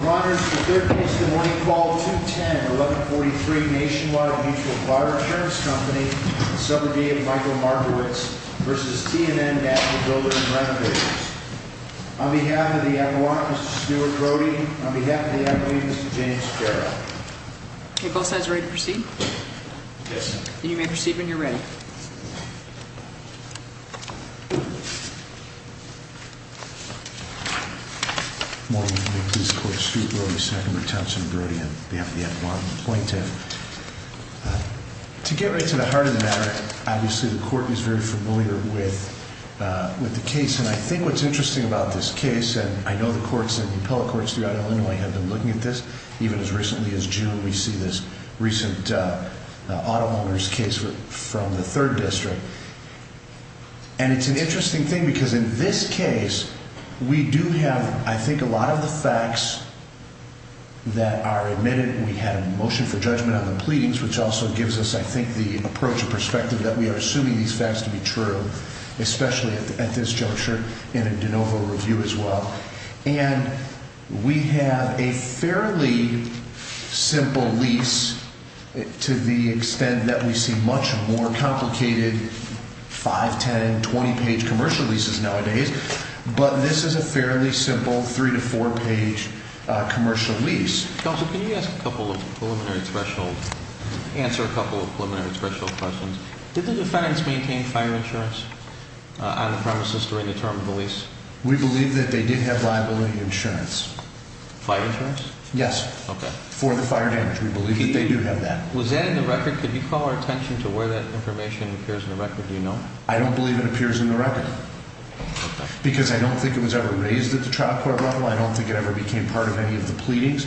We're honored to be the third case in the morning, call 210-1143 Nationwide Mutual Fire Insurance Company in the suburbia of Michael Margaret's v. T and N Master Builder and Renovators. On behalf of the Admiral, Mr. Stuart Brody. On behalf of the Admiral, Mr. James Carroll. Okay, both sides ready to proceed? Yes, sir. You may proceed when you're ready. Good morning, I'm the Appeals Court, Stuart Brody, seconded by Townsend Brody on behalf of the Admiral and Appointee. To get right to the heart of the matter, obviously the Court is very familiar with the case. And I think what's interesting about this case, and I know the courts and the appellate courts throughout Illinois have been looking at this, even as recently as June, we see this recent auto owners case from the 3rd District. And it's an interesting thing because in this case, we do have, I think, a lot of the facts that are admitted. We had a motion for judgment on the pleadings, which also gives us, I think, the approach and perspective that we are assuming these facts to be true, especially at this juncture in a de novo review as well. And we have a fairly simple lease to the extent that we see much more complicated 5-, 10-, 20-page commercial leases nowadays. But this is a fairly simple 3- to 4-page commercial lease. Counsel, can you ask a couple of preliminary special – answer a couple of preliminary special questions? Did the defendants maintain fire insurance on the premises during the term of the lease? We believe that they did have liability insurance. Fire insurance? Yes. Okay. For the fire damage. We believe that they do have that. Was that in the record? Could you call our attention to where that information appears in the record? Do you know? I don't believe it appears in the record because I don't think it was ever raised at the trial court level. I don't think it ever became part of any of the pleadings.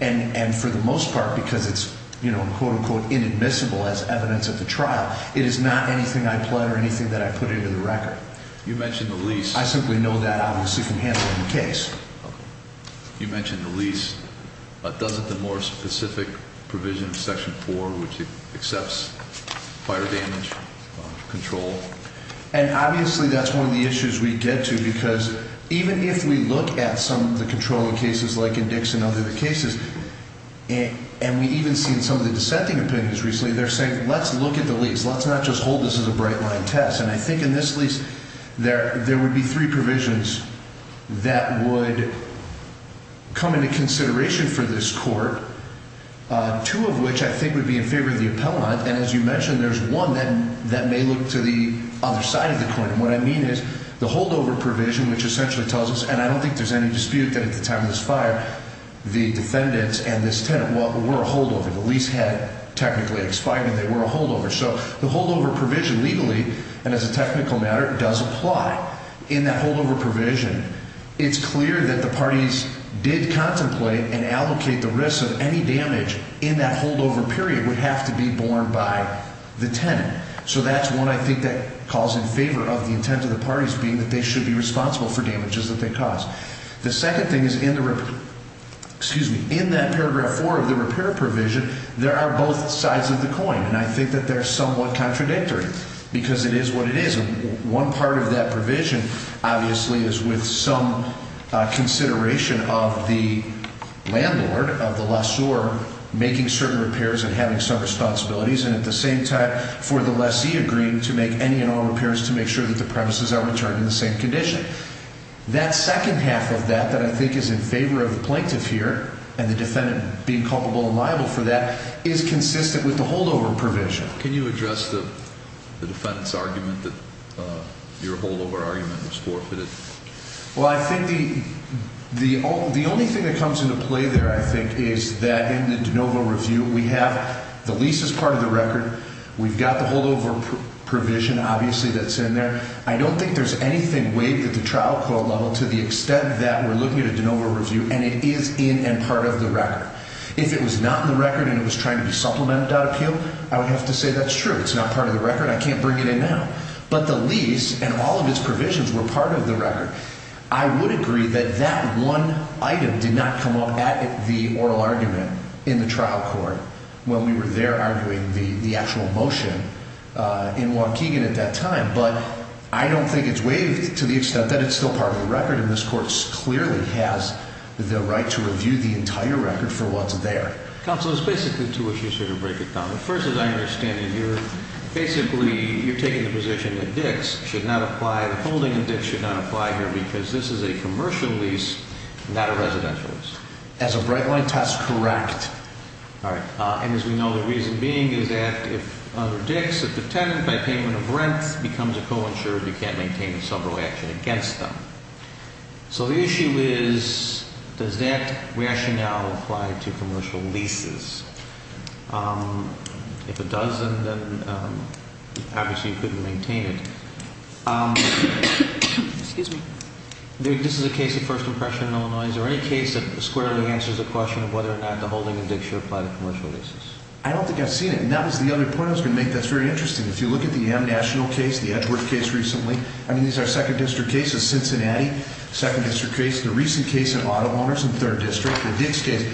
And for the most part, because it's, you know, quote, unquote, inadmissible as evidence at the trial, it is not anything I pled or anything that I put into the record. You mentioned the lease. I simply know that obviously from handling the case. Okay. You mentioned the lease. Does it demoralize specific provisions, Section 4, which accepts fire damage control? And obviously that's one of the issues we get to because even if we look at some of the controlling cases like in Dixon and other cases, and we even seen some of the dissenting opinions recently, they're saying, let's look at the lease. Let's not just hold this as a bright-line test. And I think in this lease there would be three provisions that would come into consideration for this court, two of which I think would be in favor of the appellant. And as you mentioned, there's one that may look to the other side of the court. And what I mean is the holdover provision, which essentially tells us, and I don't think there's any dispute that at the time of this fire, the defendants and this tenant were a holdover. The lease had technically expired and they were a holdover. So the holdover provision legally, and as a technical matter, does apply in that holdover provision. It's clear that the parties did contemplate and allocate the risk of any damage in that holdover period would have to be borne by the tenant. So that's one I think that calls in favor of the intent of the parties being that they should be responsible for damages that they cause. The second thing is in that paragraph 4 of the repair provision, there are both sides of the coin. And I think that they're somewhat contradictory, because it is what it is. One part of that provision, obviously, is with some consideration of the landlord, of the lessor, making certain repairs and having some responsibilities, and at the same time, for the lessee agreeing to make any and all repairs to make sure that the premises are returned in the same condition. That second half of that that I think is in favor of the plaintiff here, and the defendant being culpable and liable for that, is consistent with the holdover provision. Can you address the defendant's argument that your holdover argument was forfeited? Well, I think the only thing that comes into play there, I think, is that in the de novo review, we have the leases part of the record. We've got the holdover provision, obviously, that's in there. I don't think there's anything waived at the trial court level to the extent that we're looking at a de novo review, and it is in and part of the record. If it was not in the record and it was trying to be supplemented without appeal, I would have to say that's true. It's not part of the record. I can't bring it in now. But the lease and all of its provisions were part of the record. I would agree that that one item did not come up at the oral argument in the trial court when we were there arguing the actual motion in Waukegan at that time. But I don't think it's waived to the extent that it's still part of the record, and this court clearly has the right to review the entire record for what's there. Counsel, there's basically two issues here to break it down with. First, as I understand it, you're basically taking the position that DICS should not apply, the holding in DICS should not apply here because this is a commercial lease, not a residential lease. As a bright-line test, correct. All right. And as we know, the reason being is that if under DICS, if the tenant, by payment of rent, becomes a co-insurer, you can't maintain a several-way action against them. So the issue is, does that rationale apply to commercial leases? If it does, then obviously you couldn't maintain it. Excuse me. This is a case of first impression in Illinois. Is there any case that squarely answers the question of whether or not the holding in DICS should apply to commercial leases? I don't think I've seen it. And that was the other point I was going to make that's very interesting. If you look at the M-National case, the Edgeworth case recently, I mean, these are second-district cases. Cincinnati, second-district case. The recent case of auto owners in third district, the DICS case.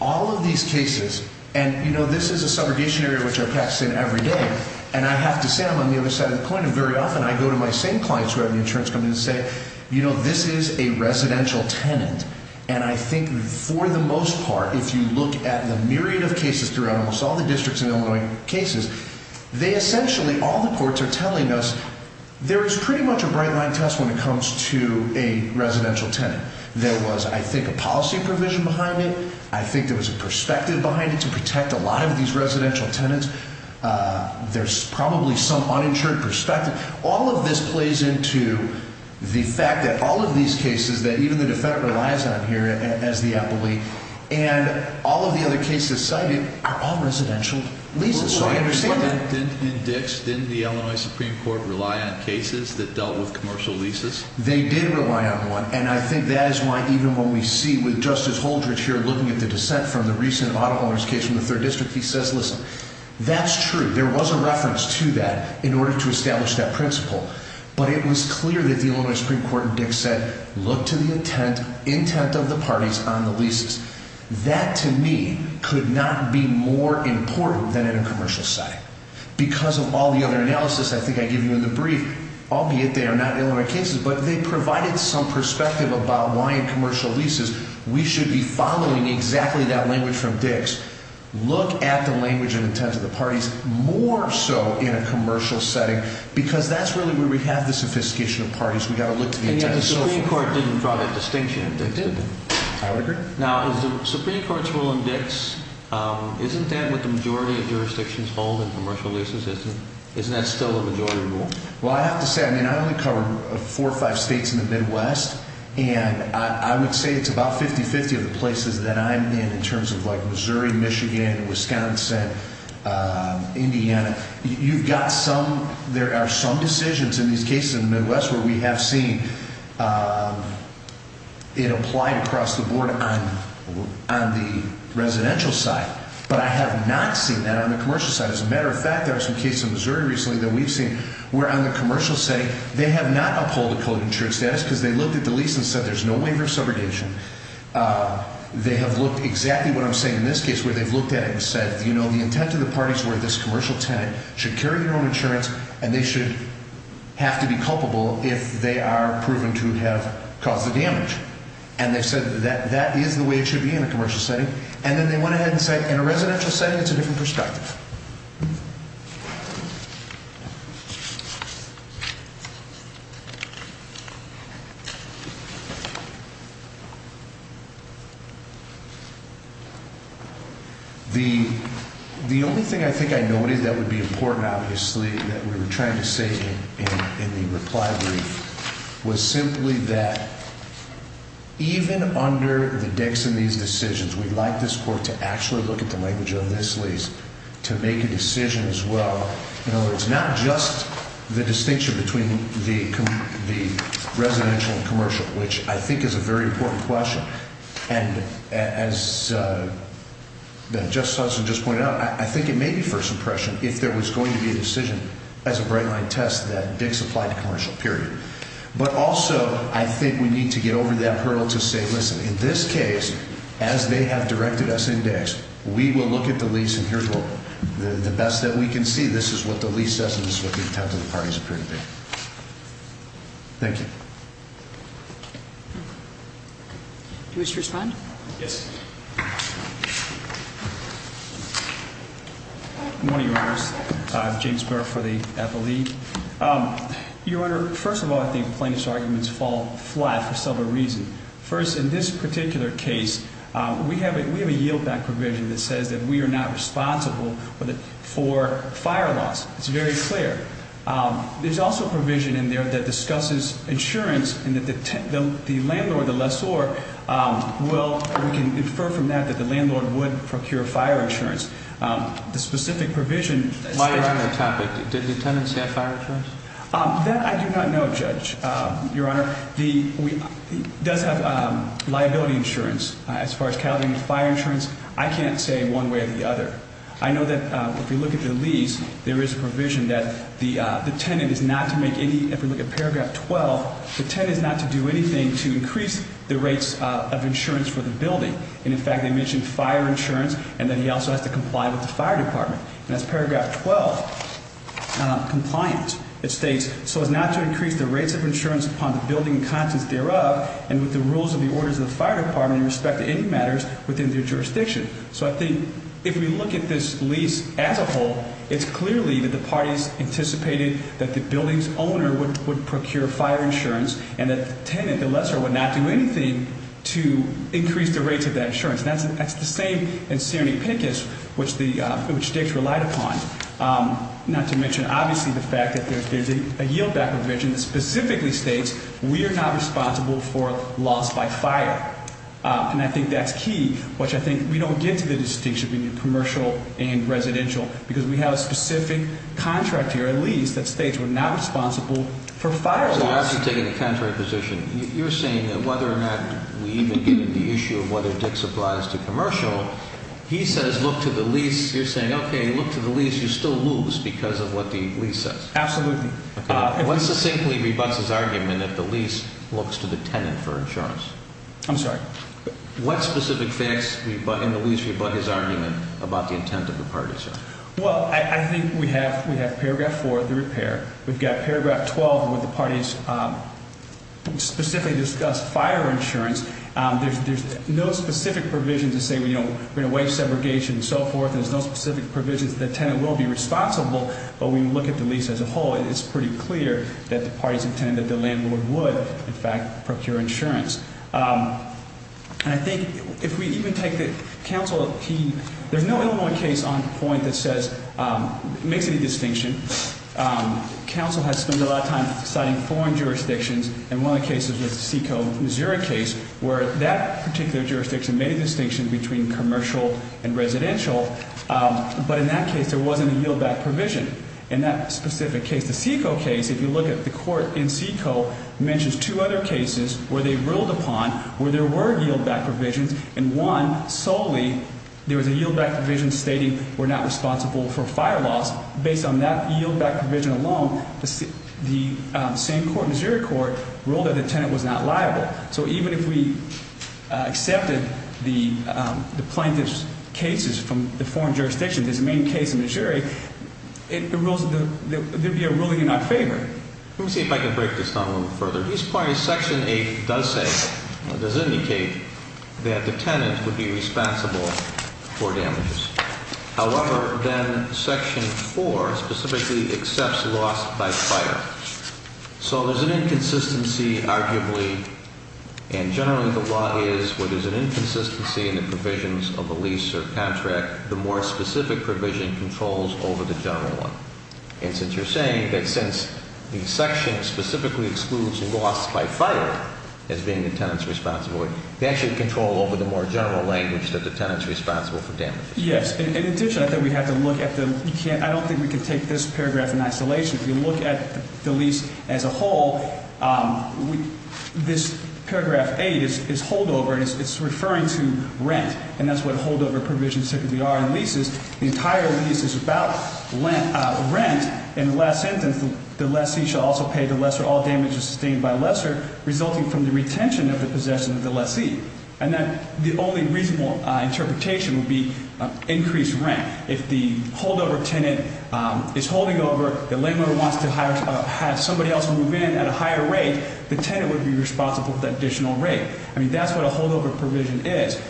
All of these cases, and, you know, this is a subrogation area which I pass in every day, and I have to say I'm on the other side of the coin, and very often I go to my same clients who have an insurance company and say, you know, this is a residential tenant. And I think for the most part, if you look at the myriad of cases throughout almost all the districts in Illinois cases, they essentially, all the courts are telling us there is pretty much a bright-line test when it comes to a residential tenant. There was, I think, a policy provision behind it. I think there was a perspective behind it to protect a lot of these residential tenants. There's probably some uninsured perspective. All of this plays into the fact that all of these cases that even the defendant relies on here as the appellee and all of the other cases cited are all residential leases. So I understand that. In DICS, didn't the Illinois Supreme Court rely on cases that dealt with commercial leases? They did rely on one, and I think that is why even when we see with Justice Holdred here looking at the dissent from the recent auto owners case from the third district, he says, listen, that's true. There was a reference to that in order to establish that principle. But it was clear that the Illinois Supreme Court in DICS said, look to the intent of the parties on the leases. That, to me, could not be more important than in a commercial setting. Because of all the other analysis I think I gave you in the brief, albeit they are not Illinois cases, but they provided some perspective about why in commercial leases we should be following exactly that language from DICS. Look at the language and intent of the parties more so in a commercial setting because that's really where we have the sophistication of parties. We've got to look to the intent of the parties. And yet the Supreme Court didn't draw that distinction. It didn't. I would agree. Now, is the Supreme Court's rule in DICS, isn't that what the majority of jurisdictions hold in commercial leases? Isn't that still a majority rule? Well, I have to say, I mean, I only cover four or five states in the Midwest, and I would say it's about 50-50 of the places that I'm in in terms of like Missouri, Michigan, Wisconsin, Indiana. You've got some, there are some decisions in these cases in the Midwest where we have seen it applied across the board on the residential side. But I have not seen that on the commercial side. As a matter of fact, there are some cases in Missouri recently that we've seen where on the commercial setting they have not uphold the code of insurance status because they looked at the lease and said there's no waiver of subrogation. They have looked exactly what I'm saying in this case where they've looked at it and said, you know, the intent of the parties were this commercial tenant should carry their own insurance and they should have to be culpable if they are proven to have caused the damage. And they've said that that is the way it should be in a commercial setting. And then they went ahead and said in a residential setting it's a different perspective. The only thing I think I noticed that would be important, obviously, that we were trying to say in the reply brief was simply that even under the Dix and these decisions, we'd like this court to actually look at the language of this lease to make a decision as well. You know, it's not just the distinction between the residential and commercial, which I think is a very important question. And as Justice Hudson just pointed out, I think it may be first impression if there was going to be a decision as a bright line test that Dix applied to commercial, period. But also, I think we need to get over that hurdle to say, listen, in this case, as they have directed us in Dix, we will look at the lease and here's what the best that we can see. This is what the lease says and this is what the intent of the parties appear to be. Thank you. Do you wish to respond? Yes. Good morning, Your Honors. James Burr for the Appellee. Your Honor, first of all, I think plaintiff's arguments fall flat for several reasons. First, in this particular case, we have a yield back provision that says that we are not responsible for fire loss. It's very clear. There's also a provision in there that discusses insurance and that the landlord, the lessor, will, we can infer from that, that the landlord would procure fire insurance. The specific provision- Why is that a topic? Do tenants have fire insurance? That I do not know, Judge. Your Honor, he does have liability insurance. As far as calculating fire insurance, I can't say one way or the other. I know that if we look at the lease, there is a provision that the tenant is not to make any, if we look at paragraph 12, the tenant is not to do anything to increase the rates of insurance for the building. And, in fact, they mention fire insurance and that he also has to comply with the fire department. And that's paragraph 12, compliance. It states, so as not to increase the rates of insurance upon the building and contents thereof and with the rules of the orders of the fire department in respect to any matters within their jurisdiction. So I think if we look at this lease as a whole, it's clearly that the parties anticipated that the building's owner would procure fire insurance and that the tenant, the lessor, would not do anything to increase the rates of that insurance. And that's the same in Serenipicus, which Dick's relied upon. Not to mention, obviously, the fact that there's a yieldback provision that specifically states we are not responsible for loss by fire. And I think that's key, which I think we don't get to the distinction between commercial and residential because we have a specific contract here, at least, that states we're not responsible for fire loss. So you're actually taking the contrary position. You're saying that whether or not we even get into the issue of whether Dick's applies to commercial, he says look to the lease. You're saying, okay, look to the lease. You still lose because of what the lease says. Absolutely. What succinctly rebutts his argument that the lease looks to the tenant for insurance? I'm sorry? What specific facts in the lease rebut his argument about the intent of the parties? Well, I think we have paragraph 4, the repair. We've got paragraph 12 where the parties specifically discuss fire insurance. There's no specific provision to say we're going to waive segregation and so forth. There's no specific provision that the tenant will be responsible, but we look at the lease as a whole. It's pretty clear that the parties intend that the landlord would, in fact, procure insurance. And I think if we even take the counsel, there's no Illinois case on point that makes any distinction. Counsel has spent a lot of time citing foreign jurisdictions. And one of the cases was the Seco, Missouri case where that particular jurisdiction made a distinction between commercial and residential. But in that case, there wasn't a yieldback provision. In that specific case, the Seco case, if you look at the court in Seco, mentions two other cases where they ruled upon where there were yieldback provisions. And one, solely, there was a yieldback provision stating we're not responsible for fire loss. Based on that yieldback provision alone, the same court, Missouri court, ruled that the tenant was not liable. So even if we accepted the plaintiff's cases from the foreign jurisdictions as the main case in Missouri, there would be a ruling in our favor. Let me see if I can break this down a little further. These parties, Section 8 does say, does indicate that the tenant would be responsible for damages. However, then Section 4 specifically accepts loss by fire. So there's an inconsistency, arguably, and generally the law is where there's an inconsistency in the provisions of the lease or contract, the more specific provision controls over the general one. And since you're saying that since the section specifically excludes loss by fire as being the tenant's responsibility, that should control over the more general language that the tenant's responsible for damages. Yes. In addition, I think we have to look at the, I don't think we can take this paragraph in isolation. If you look at the lease as a whole, this paragraph 8 is holdover and it's referring to rent. And that's what holdover provisions typically are in leases. The entire lease is about rent. In the last sentence, the lessee shall also pay the lesser. All damages sustained by lesser resulting from the retention of the possession of the lessee. And then the only reasonable interpretation would be increased rent. If the holdover tenant is holding over, the landowner wants to have somebody else move in at a higher rate, the tenant would be responsible for that additional rate. I mean, that's what a holdover provision is.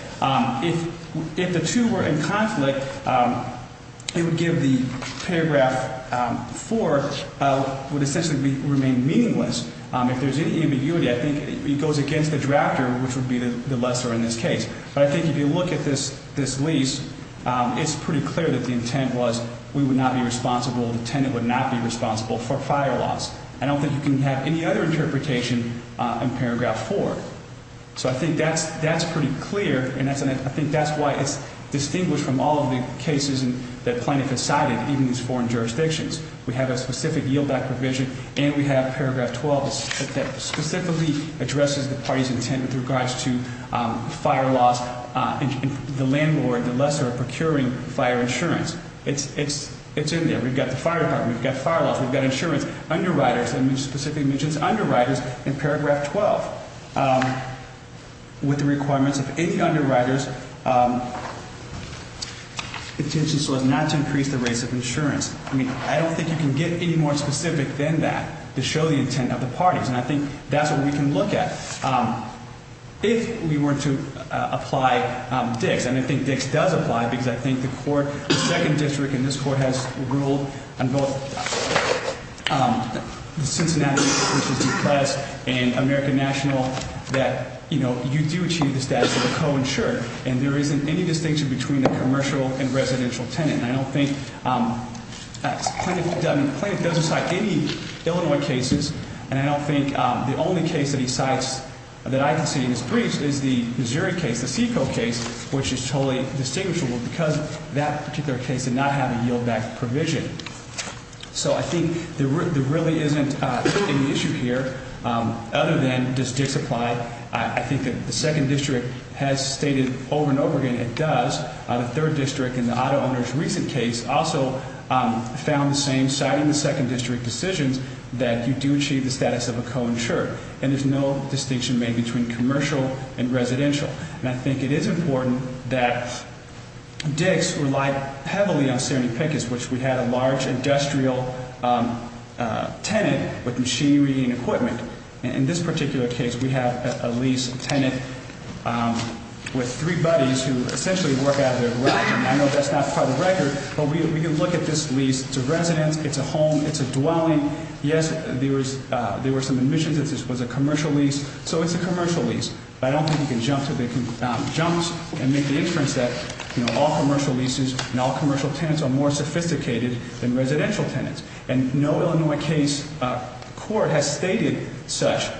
If the two were in conflict, it would give the paragraph 4 would essentially remain meaningless. If there's any ambiguity, I think it goes against the drafter, which would be the lesser in this case. But I think if you look at this lease, it's pretty clear that the intent was we would not be responsible, the tenant would not be responsible for fire loss. I don't think you can have any other interpretation in paragraph 4. So I think that's pretty clear, and I think that's why it's distinguished from all of the cases that Plaintiff has cited, even these foreign jurisdictions. We have a specific yield back provision, and we have paragraph 12 that specifically addresses the party's intent with regards to fire loss. The landlord, the lesser, are procuring fire insurance. It's in there. We've got the fire department. We've got fire loss. We've got insurance. Underwriters, I mean, it specifically mentions underwriters in paragraph 12 with the requirements of any underwriters' intention so as not to increase the rates of insurance. I mean, I don't think you can get any more specific than that to show the intent of the parties, and I think that's what we can look at. If we were to apply DICS, and I think DICS does apply because I think the court, the second district in this court has ruled on both Cincinnati, which is depressed, and American National that, you know, you do achieve the status of a co-insured, and there isn't any distinction between a commercial and residential tenant. I don't think, I mean, Plaintiff doesn't cite any Illinois cases, and I don't think the only case that he cites that I can see in his briefs is the Missouri case, the SECO case, which is totally distinguishable because that particular case did not have a yield back provision. So I think there really isn't any issue here other than does DICS apply. I think that the second district has stated over and over again it does. The third district in the auto owner's recent case also found the same, citing the second district decisions, that you do achieve the status of a co-insured, and there's no distinction made between commercial and residential. And I think it is important that DICS relied heavily on Serenipicus, which we had a large industrial tenant with machinery and equipment. In this particular case, we have a lease tenant with three buddies who essentially work out of their garage. I know that's not part of the record, but we can look at this lease. It's a residence. It's a home. It's a dwelling. Yes, there were some admissions that this was a commercial lease, so it's a commercial lease. But I don't think you can jump to the jumps and make the inference that, you know, all commercial leases and all commercial tenants are more sophisticated than residential tenants. And no Illinois case court has stated such.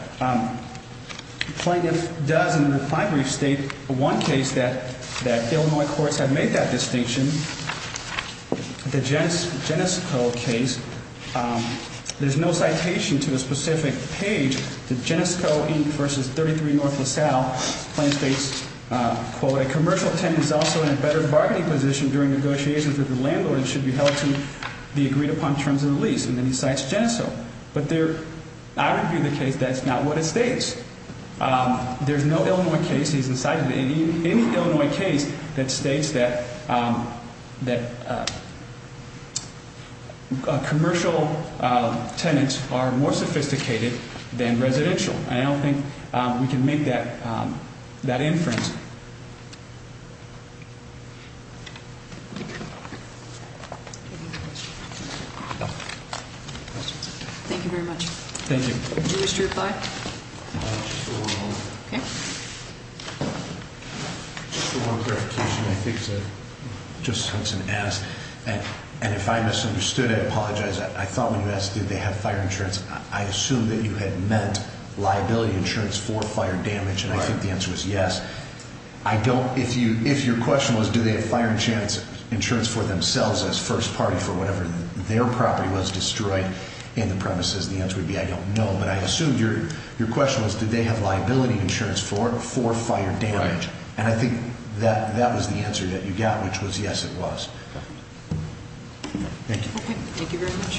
Plaintiff does in a reply brief state one case that Illinois courts have made that distinction, the Genesco case. There's no citation to a specific page. The Genesco v. 33 North LaSalle claims states, quote, A commercial tenant is also in a better bargaining position during negotiations with the landlord and should be held to the agreed-upon terms of the lease. And then he cites Genesco. But I review the case. That's not what it states. There's no Illinois case. He's inciting any Illinois case that states that commercial tenants are more sophisticated than residential. I don't think we can make that inference. Thank you very much. Thank you. Did you wish to reply? Just a little clarification. I think it's just something to ask. And if I misunderstood it, I apologize. I thought when you asked did they have fire insurance, I assumed that you had meant liability insurance for fire damage. And I think the answer was yes. I don't. If your question was do they have fire insurance for themselves as first party for whatever their property was destroyed in the premises, the answer would be I don't know. But I assumed your question was did they have liability insurance for fire damage. And I think that was the answer that you got, which was yes, it was. Thank you. Thank you very much.